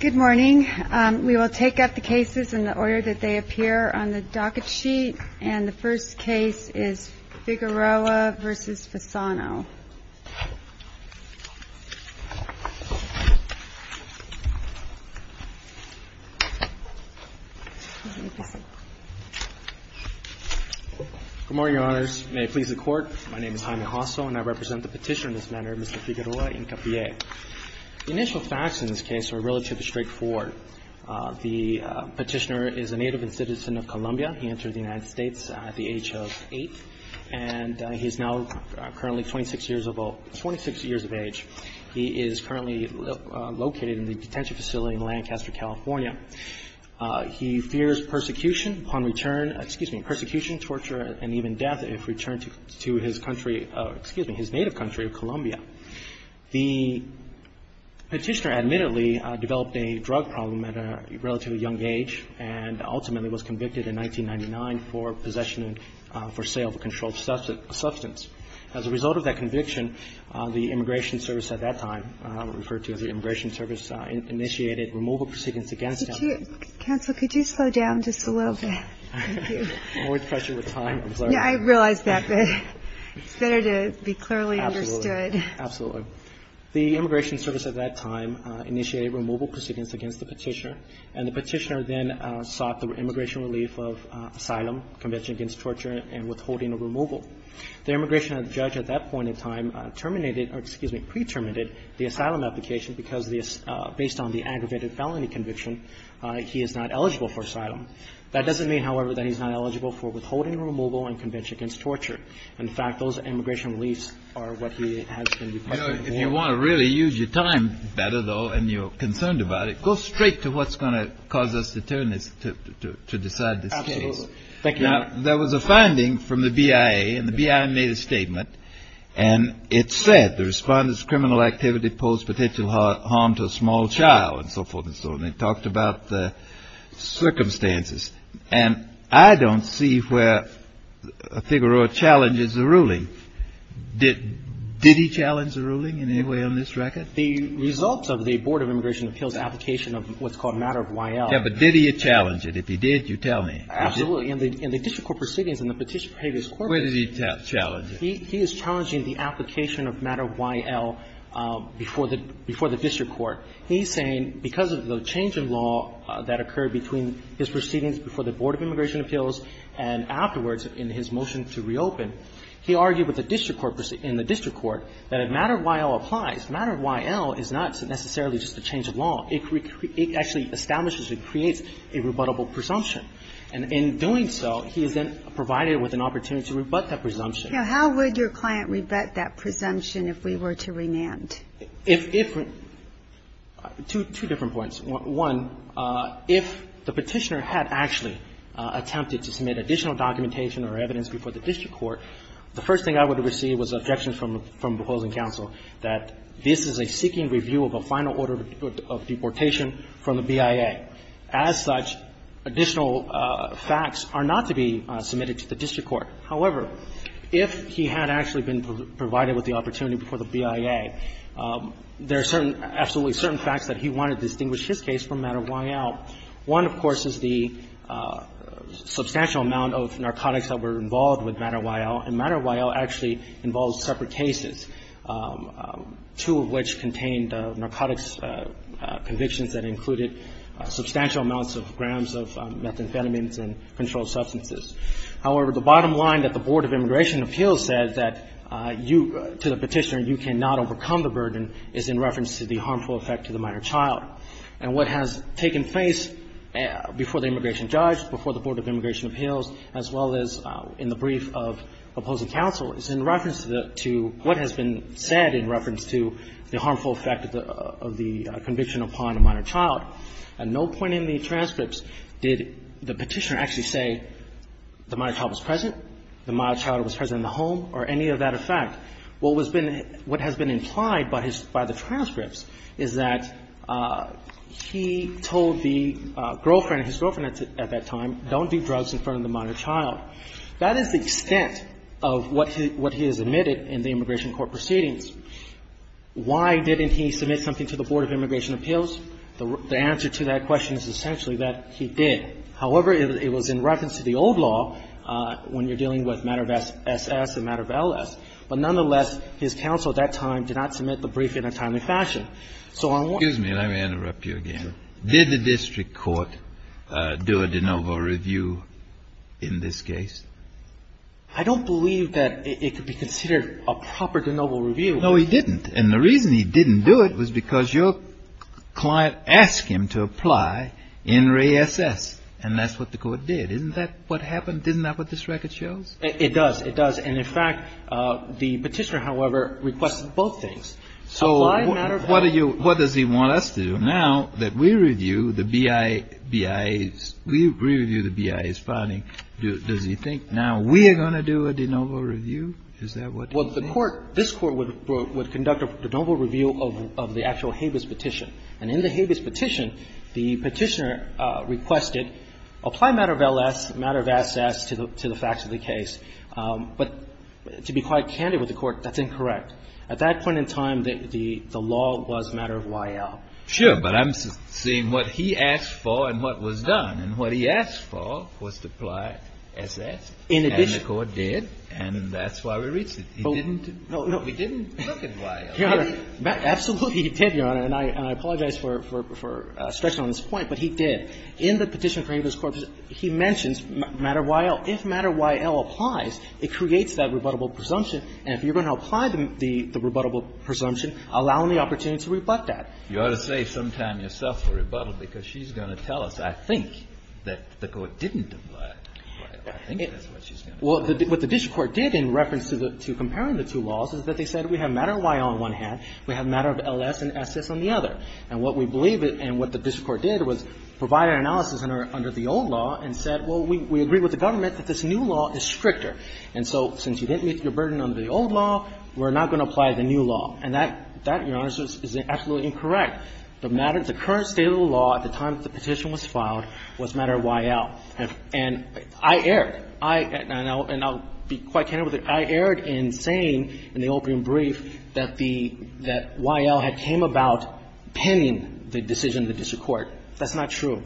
Good morning. We will take up the cases in the order that they appear on the docket sheet. And the first case is Figueroa v. Fasano. Good morning, Your Honors. May it please the Court, my name is Jaime Hosso and I represent the petitioner in this matter, Mr. Figueroa-Hincapie. The initial facts in this case are relatively straightforward. The petitioner is a native and citizen of Colombia. He entered the United States at the age of 8 and he is now currently 26 years of age. He is currently located in the detention facility in Lancaster, California. He fears persecution upon return, excuse me, persecution, torture and even death if returned to his country, excuse me, his native country of Colombia. The petitioner admittedly developed a drug problem at a relatively young age and ultimately was convicted in 1999 for possession and for sale of a controlled substance. As a result of that conviction, the Immigration Service at that time, referred to as the Immigration Service, initiated removal proceedings against him. Counsel, could you slow down just a little bit? More pressure with time. I realize that, but it's better to be clearly understood. Absolutely. The Immigration Service at that time initiated removal proceedings against the petitioner and the petitioner then sought the immigration relief of asylum, conviction against torture and withholding a removal. The immigration judge at that point in time terminated or, excuse me, pre-terminated the asylum application because based on the aggravated felony conviction, he is not eligible for asylum. That doesn't mean, however, that he's not eligible for withholding removal and conviction against torture. In fact, those immigration reliefs are what he has been requested for. If you want to really use your time better, though, and you're concerned about it, go straight to what's going to cause us to turn this, to decide this case. Absolutely. Thank you, Your Honor. Now, there was a finding from the BIA, and the BIA made a statement, and it said the Respondent's criminal activity posed potential harm to a small child and so forth and so on. And it talked about the circumstances. And I don't see where Figueroa challenges the ruling. Did he challenge the ruling in any way on this record? The results of the Board of Immigration Appeals application of what's called a matter of Y.L. Yeah, but did he challenge it? If he did, you tell me. Absolutely. In the district court proceedings, in the Petitioner Behaviorist Court proceedings. Where did he challenge it? He is challenging the application of matter of Y.L. before the district court. He's saying because of the change in law that occurred between his proceedings before the Board of Immigration Appeals and afterwards in his motion to reopen, he argued with the district court, in the district court, that a matter of Y.L. applies. Matter of Y.L. is not necessarily just a change of law. It actually establishes and creates a rebuttable presumption. And in doing so, he is then provided with an opportunity to rebut that presumption. Now, how would your client rebut that presumption if we were to remand? Two different points. One, if the Petitioner had actually attempted to submit additional documentation or evidence before the district court, the first thing I would have received was objections from the opposing counsel that this is a seeking review of a final order of deportation from the BIA. As such, additional facts are not to be submitted to the district court. However, if he had actually been provided with the opportunity before the BIA, there are absolutely certain facts that he wanted to distinguish his case from matter of Y.L. One, of course, is the substantial amount of narcotics that were involved with matter of Y.L. And matter of Y.L. actually involves separate cases, two of which contained narcotics convictions that included substantial amounts of grams of methamphetamines and controlled substances. However, the bottom line that the Board of Immigration Appeals said that you, to the Petitioner, you cannot overcome the burden is in reference to the harmful effect to the minor child. And what has taken place before the immigration judge, before the Board of Immigration Appeals, as well as in the brief of opposing counsel, is in reference to what has been said in reference to the harmful effect of the conviction upon a minor child. At no point in the transcripts did the Petitioner actually say the minor child was present, the minor child was present in the home, or any of that effect. What has been implied by the transcripts is that he told the girlfriend, his girlfriend at that time, don't do drugs in front of the minor child. That is the extent of what he has admitted in the immigration court proceedings. Why didn't he submit something to the Board of Immigration Appeals? The answer to that question is essentially that he did. However, it was in reference to the old law when you're dealing with matter of S.S. and matter of L.S. But nonetheless, his counsel at that time did not submit the brief in a timely fashion. So I'm wondering why. Kennedy. Excuse me. Let me interrupt you again. Did the district court do a de novo review in this case? I don't believe that it could be considered a proper de novo review. No, he didn't. And the reason he didn't do it was because your client asked him to apply in re S.S. And that's what the court did. Isn't that what happened? Isn't that what this record shows? It does. And, in fact, the Petitioner, however, requested both things. So what are you – what does he want us to do now that we review the BIA's – we review the BIA's filing? Is that what he thinks? Well, the court – this Court would conduct a de novo review of the actual Habeas Petition. And in the Habeas Petition, the Petitioner requested apply matter of L.S., matter of S.S. to the facts of the case. But to be quite candid with the Court, that's incorrect. At that point in time, the law was matter of Y.L. Sure. But I'm saying what he asked for and what was done. And what he asked for was to apply S.S. In addition. And the Court did, and that's why we reached it. He didn't look at Y.L. Absolutely he did, Your Honor. And I apologize for stretching on this point, but he did. In the Petition for Habeas Corpus, he mentions matter of Y.L. If matter of Y.L. applies, it creates that rebuttable presumption. And if you're going to apply the rebuttable presumption, allow him the opportunity to rebut that. You ought to say sometime yourself for rebuttal, because she's going to tell us, I think, that the Court didn't apply Y.L. I think that's what she's going to say. Well, what the district court did in reference to comparing the two laws is that they said we have matter of Y.L. on one hand. We have matter of L.S. and S.S. on the other. And what we believe it and what the district court did was provide an analysis under the old law and said, well, we agree with the government that this new law is stricter. And so since you didn't meet your burden under the old law, we're not going to apply the new law. And that, Your Honor, is absolutely incorrect. The matter of the current state of the law at the time the petition was filed was matter of Y.L. And I erred. And I'll be quite candid with you. I erred in saying in the opium brief that the Y.L. had came about pending the decision of the district court. That's not true.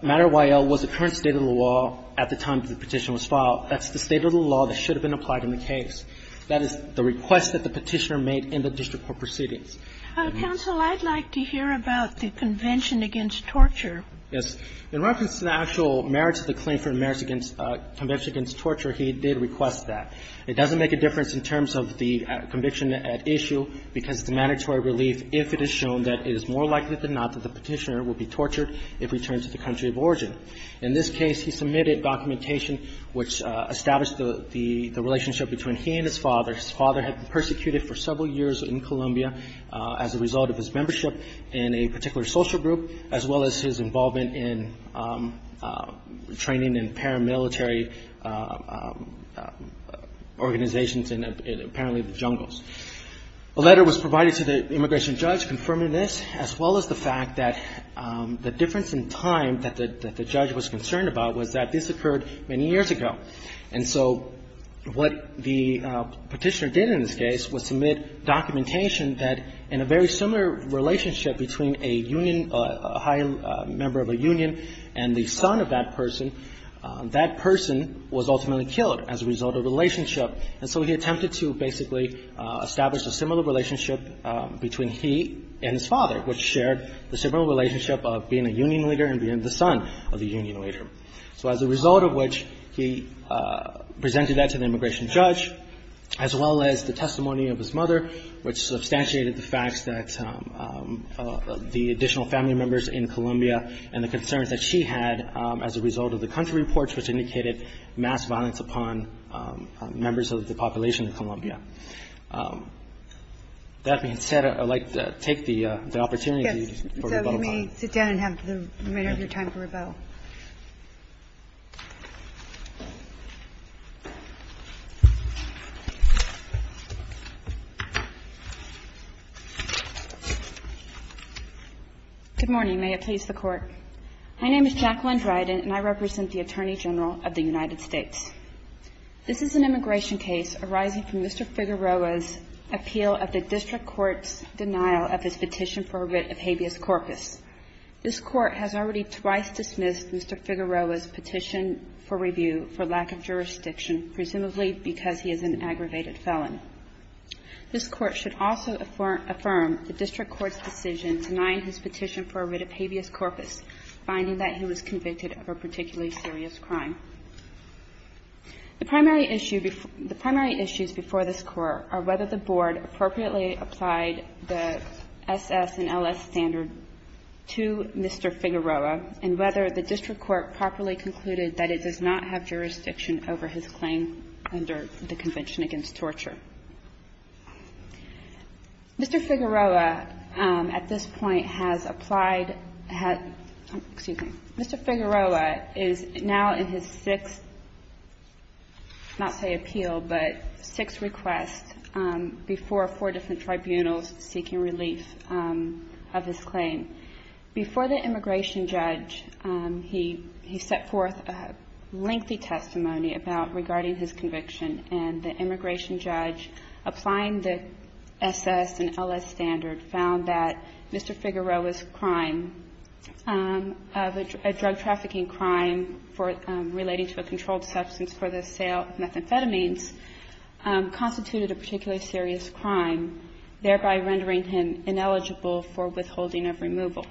Matter of Y.L. was the current state of the law at the time the petition was filed. That's the state of the law that should have been applied in the case. That is the request that the Petitioner made in the district court proceedings. Counsel, I'd like to hear about the Convention against Torture. Yes. In reference to the actual merits of the claim for merits against Convention against Torture, he did request that. It doesn't make a difference in terms of the conviction at issue because it's a mandatory relief if it is shown that it is more likely than not that the Petitioner will be tortured if returned to the country of origin. In this case, he submitted documentation which established the relationship between he and his father. His father had been persecuted for several years in Colombia as a result of his membership in a particular social group as well as his involvement in training in paramilitary organizations in apparently the jungles. A letter was provided to the immigration judge confirming this as well as the fact that the difference in time that the judge was concerned about was that this occurred many years ago. And so what the Petitioner did in this case was submit documentation that in a very similar relationship between a union or a high member of a union and the son of that person, that person was ultimately killed as a result of the relationship. And so he attempted to basically establish a similar relationship between he and his father, which shared the similar relationship of being a union leader and being the son of the union leader. So as a result of which, he presented that to the immigration judge as well as the additional family members in Colombia and the concerns that she had as a result of the country reports, which indicated mass violence upon members of the population of Colombia. That being said, I'd like to take the opportunity for rebuttal time. May I sit down and have the remainder of your time for rebuttal? Good morning. May it please the Court. My name is Jacqueline Dryden, and I represent the Attorney General of the United States. This is an immigration case arising from Mr. Figueroa's appeal of the district court's denial of his petition for writ of habeas corpus. This court has already twice dismissed Mr. Figueroa's petition for review for lack of jurisdiction, presumably because he is an aggravated felon. This court should also affirm the district court's decision denying his petition for writ of habeas corpus, finding that he was convicted of a particularly serious crime. The primary issue before this court are whether the board appropriately applied the SS and LS standard to Mr. Figueroa and whether the district court properly concluded that it does not have jurisdiction over his claim under the Convention Against Torture. Mr. Figueroa, at this point, has applied at — excuse me. Mr. Figueroa is now in his sixth, not say appeal, but sixth request before four different tribunals seeking relief of his claim. Before the immigration judge, he set forth a lengthy testimony about — regarding his conviction. And the immigration judge applying the SS and LS standard found that Mr. Figueroa's crime of a drug trafficking crime relating to a controlled substance for the sale of thereby rendering him ineligible for withholding of removal.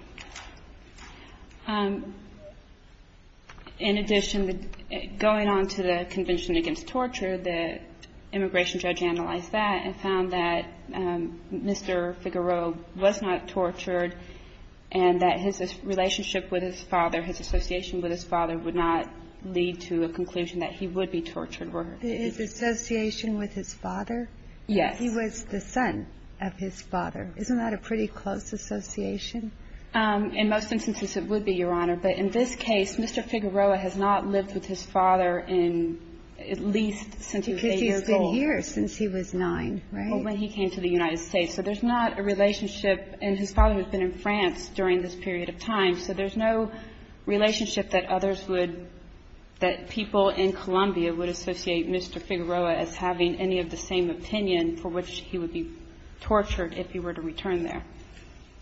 In addition, going on to the Convention Against Torture, the immigration judge analyzed that and found that Mr. Figueroa was not tortured and that his relationship with his father, his association with his father, would not lead to a conclusion that he would be tortured. And that's what we're looking for. Is association with his father? Yes. He was the son of his father. Isn't that a pretty close association? In most instances, it would be, Your Honor. But in this case, Mr. Figueroa has not lived with his father in at least since he was 8 years old. Because he's been here since he was 9, right? Well, when he came to the United States. So there's not a relationship. And his father has been in France during this period of time. So there's no relationship that others would, that people in Colombia would associate Mr. Figueroa as having any of the same opinion for which he would be tortured if he were to return there.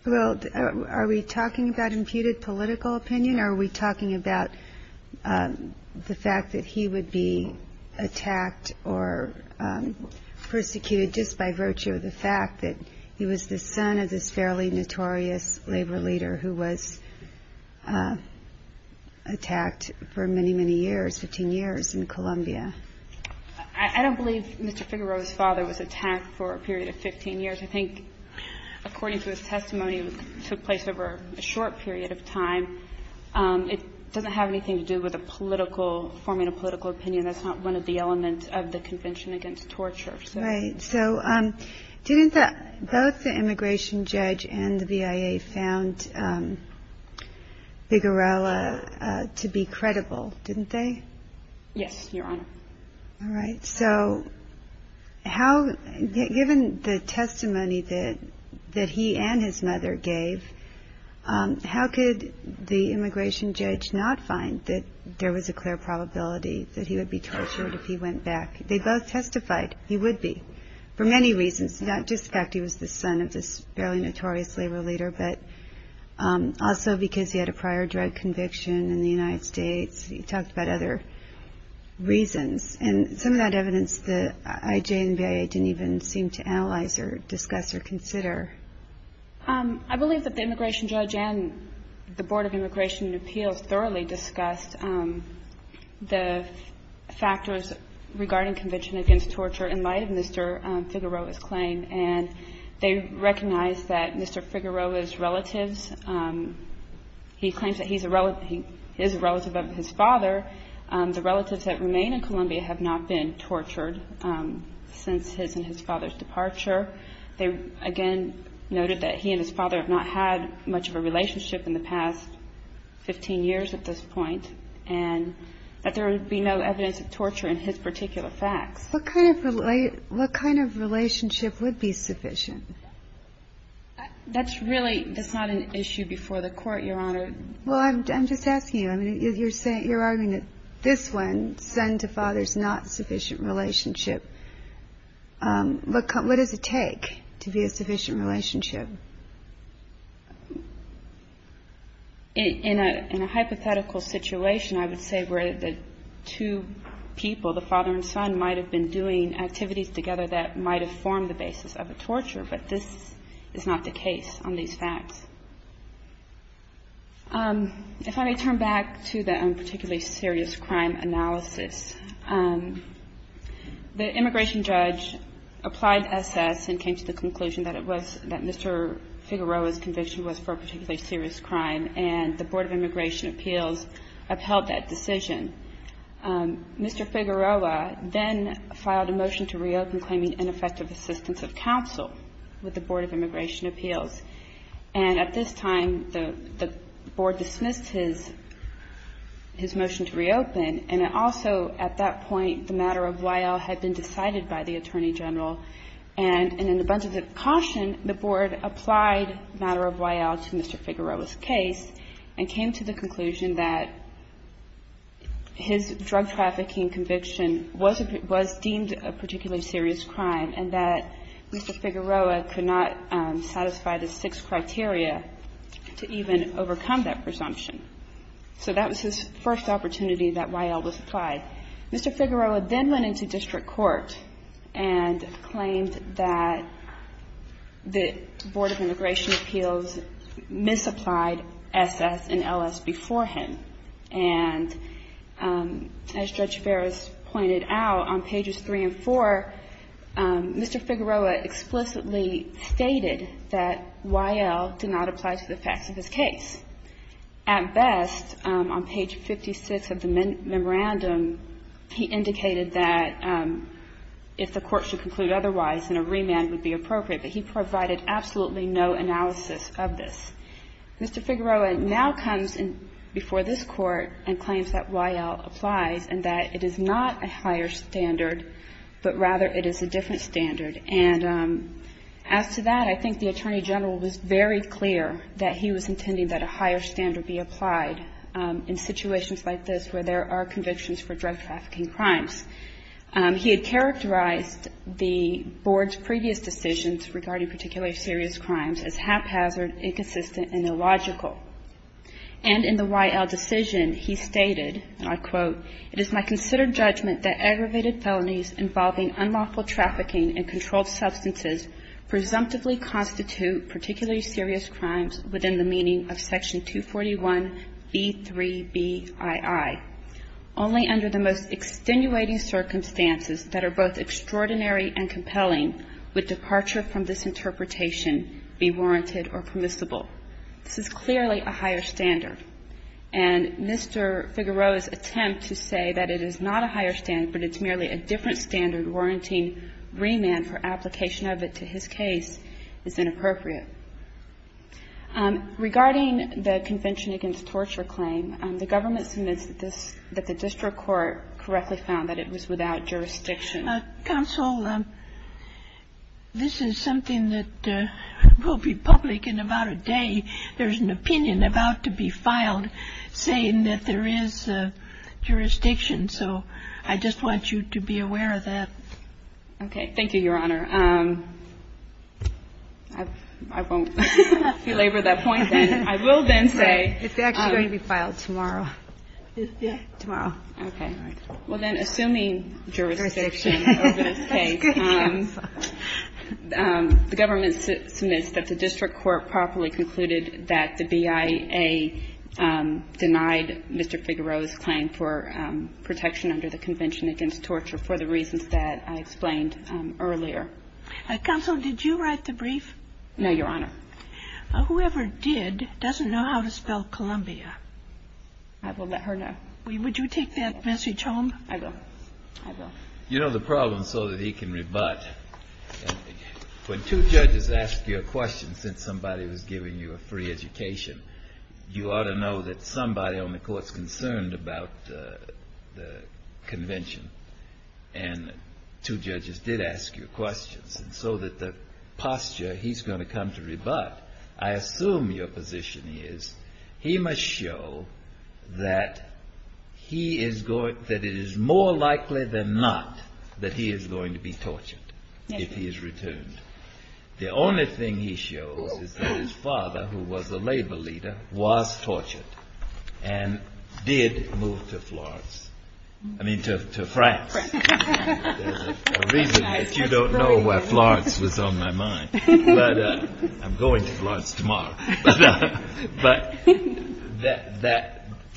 Well, are we talking about imputed political opinion? Are we talking about the fact that he would be attacked or persecuted just by virtue of the fact that he was the son of this fairly notorious labor leader who was attacked for many, many years, 15 years, in Colombia? I don't believe Mr. Figueroa's father was attacked for a period of 15 years. I think, according to his testimony, it took place over a short period of time. It doesn't have anything to do with a political, forming a political opinion. That's not one of the elements of the Convention Against Torture. Right. So didn't the, both the immigration judge and the BIA found Figueroa to be credible, didn't they? Yes, Your Honor. All right. So how, given the testimony that he and his mother gave, how could the immigration judge not find that there was a clear probability that he would be tortured if he went back? They both testified he would be for many reasons, not just the fact he was the son of this fairly notorious labor leader, but also because he had a prior drug conviction in the United States. He talked about other reasons. And some of that evidence the IJ and BIA didn't even seem to analyze or discuss or consider. I believe that the immigration judge and the Board of Immigration and Appeals thoroughly discussed the factors regarding Convention Against Torture in light of Mr. Figueroa's claim. And they recognized that Mr. Figueroa's relatives, he claims that he is a relative of his father. The relatives that remain in Colombia have not been tortured since his and his father's departure. They, again, noted that he and his father have not had much of a relationship in the past 15 years at this point and that there would be no evidence of torture in his particular facts. What kind of relationship would be sufficient? That's really not an issue before the Court, Your Honor. Well, I'm just asking you. I mean, you're arguing that this one, son to father, is not a sufficient relationship. What does it take to be a sufficient relationship? In a hypothetical situation, I would say where the two people, the father and son, might have been doing activities together that might have formed the basis of a torture. But this is not the case on these facts. If I may turn back to the particularly serious crime analysis, the immigration judge applied SS and came to the conclusion that it was, that Mr. Figueroa's conviction was for a particularly serious crime, and the Board of Immigration Appeals upheld that decision. Mr. Figueroa then filed a motion to reopen claiming ineffective assistance of counsel with the Board of Immigration Appeals. And at this time, the Board dismissed his motion to reopen. And it also, at that point, the matter of Wael had been decided by the Attorney General. And in a bunch of caution, the Board applied the matter of Wael to Mr. Figueroa's case and came to the conclusion that his drug trafficking conviction was deemed a particularly serious crime and that Mr. Figueroa could not satisfy the six criteria to even overcome that presumption. So that was his first opportunity that Wael was applied. Mr. Figueroa then went into district court and claimed that the Board of Immigration Appeals misapplied SS and LS beforehand. And as Judge Ferris pointed out, on pages 3 and 4, Mr. Figueroa explicitly stated that Wael did not apply to the facts of his case. At best, on page 56 of the memorandum, he indicated that if the court should conclude otherwise, then a remand would be appropriate. But he provided absolutely no analysis of this. Mr. Figueroa now comes before this Court and claims that Wael applies and that it is not a higher standard, but rather it is a different standard. And as to that, I think the Attorney General was very clear that he was intending that a higher standard be applied in situations like this where there are convictions for drug trafficking crimes. He had characterized the Board's previous decisions regarding particularly serious crimes as haphazard, inconsistent, and illogical. And in the Wael decision, he stated, and I quote, it is my considered judgment that aggravated felonies involving unlawful trafficking and controlled substances presumptively constitute particularly serious crimes within the meaning of Section 241B3Bii, only under the most extenuating circumstances that are both extraordinary and compelling would departure from this interpretation be warranted or permissible. This is clearly a higher standard. And Mr. Figueroa's attempt to say that it is not a higher standard, but it's merely a different standard warranting remand for application of it to his case is inappropriate. Regarding the Convention Against Torture claim, the government submits that this is the case that the district court correctly found that it was without jurisdiction. Counsel, this is something that will be public in about a day. There is an opinion about to be filed saying that there is jurisdiction. So I just want you to be aware of that. Okay. Thank you, Your Honor. I won't belabor that point then. I will then say. It's actually going to be filed tomorrow. Tomorrow. Okay. All right. Well, then, assuming jurisdiction over this case, the government submits that the district court properly concluded that the BIA denied Mr. Figueroa's claim for protection under the Convention Against Torture for the reasons that I explained earlier. Counsel, did you write the brief? No, Your Honor. Whoever did doesn't know how to spell Columbia. I will let her know. Would you take that, Mr. Cholm? I will. I will. You know the problem, so that he can rebut. When two judges ask you a question, since somebody was giving you a free education, you ought to know that somebody on the court is concerned about the convention. And two judges did ask you questions. And so that the posture, he's going to come to rebut. I assume your position is he must show that it is more likely than not that he is going to be tortured if he is returned. The only thing he shows is that his father, who was a labor leader, was tortured and did move to Florence. I mean, to France. There's a reason that you don't know where Florence was on my mind. I'm going to Florence tomorrow.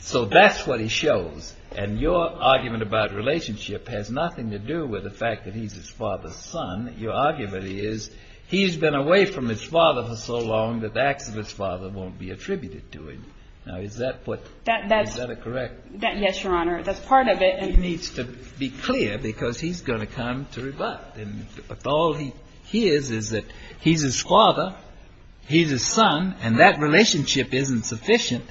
So that's what he shows. And your argument about relationship has nothing to do with the fact that he's his father's son. Your argument is he's been away from his father for so long that the acts of his father won't be attributed to him. Now, is that a correct? Yes, Your Honor. That's part of it. He needs to be clear because he's going to come to rebut. And all he hears is that he's his father, he's his son, and that relationship isn't sufficient.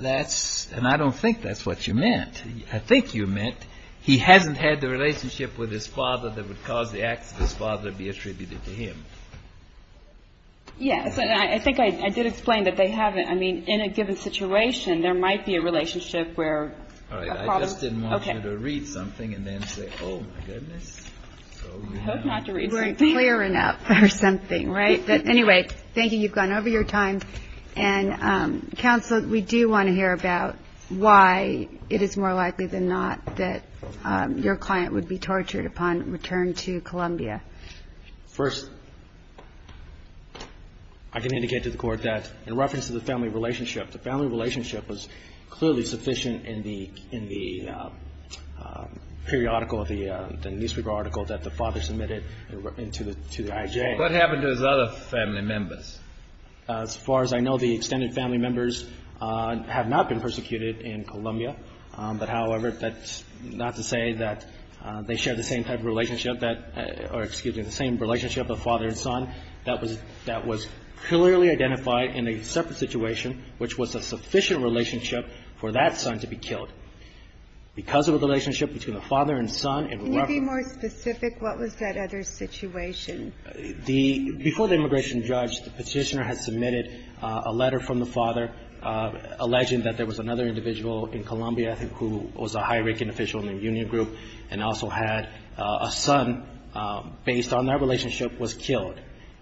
That's and I don't think that's what you meant. I think you meant he hasn't had the relationship with his father that would cause the acts of his father to be attributed to him. Yes. And I think I did explain that they haven't. I mean, in a given situation, there might be a relationship where. All right. I just didn't want you to read something and then say, oh, my goodness. I hope not to read something. You weren't clear enough or something, right? But anyway, thank you. You've gone over your time. And counsel, we do want to hear about why it is more likely than not that your client would be tortured upon return to Columbia. First, I can indicate to the Court that in reference to the family relationship, the family relationship was clearly sufficient in the periodical, the newspaper article that the father submitted to the IJ. What happened to his other family members? As far as I know, the extended family members have not been persecuted in Columbia. But, however, that's not to say that they share the same type of relationship, or excuse me, the same relationship of father and son. That was clearly identified in a separate situation, which was a sufficient relationship for that son to be killed. Because of the relationship between the father and son in reference to the family relationship. Can you be more specific? What was that other situation? Before the immigration judge, the Petitioner had submitted a letter from the father alleging that there was another individual in Columbia who was a high ranking official in the union group and also had a son based on that relationship was killed.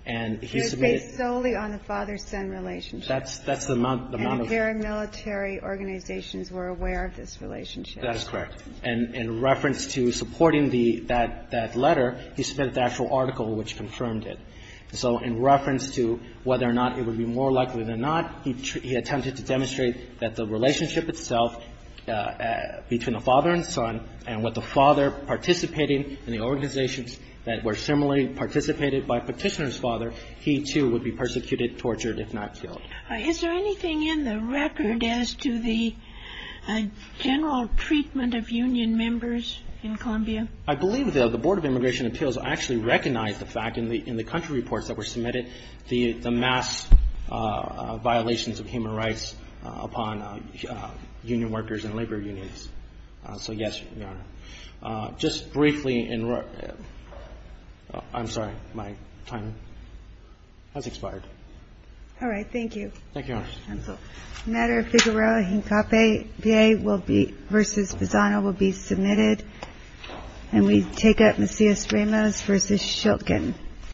And he submitted. It was based solely on the father-son relationship. That's the amount of. And the paramilitary organizations were aware of this relationship. That is correct. And in reference to supporting that letter, he submitted the actual article which confirmed it. So in reference to whether or not it would be more likely than not, he attempted to demonstrate that the relationship itself between the father and son and what the father participating in the organizations that were similarly participated by Petitioner's father, he too would be persecuted, tortured, if not killed. Is there anything in the record as to the general treatment of union members in Columbia? I believe that the Board of Immigration Appeals actually recognized the fact in the country reports that were submitted the mass violations of human rights upon union workers and labor unions. So, yes, Your Honor. Just briefly, I'm sorry. My time has expired. All right. Thank you. Thank you, Your Honor. The matter of Figueroa-Hincapié v. Pisano will be submitted. And we take up Macias-Ramos v. Schiltgen.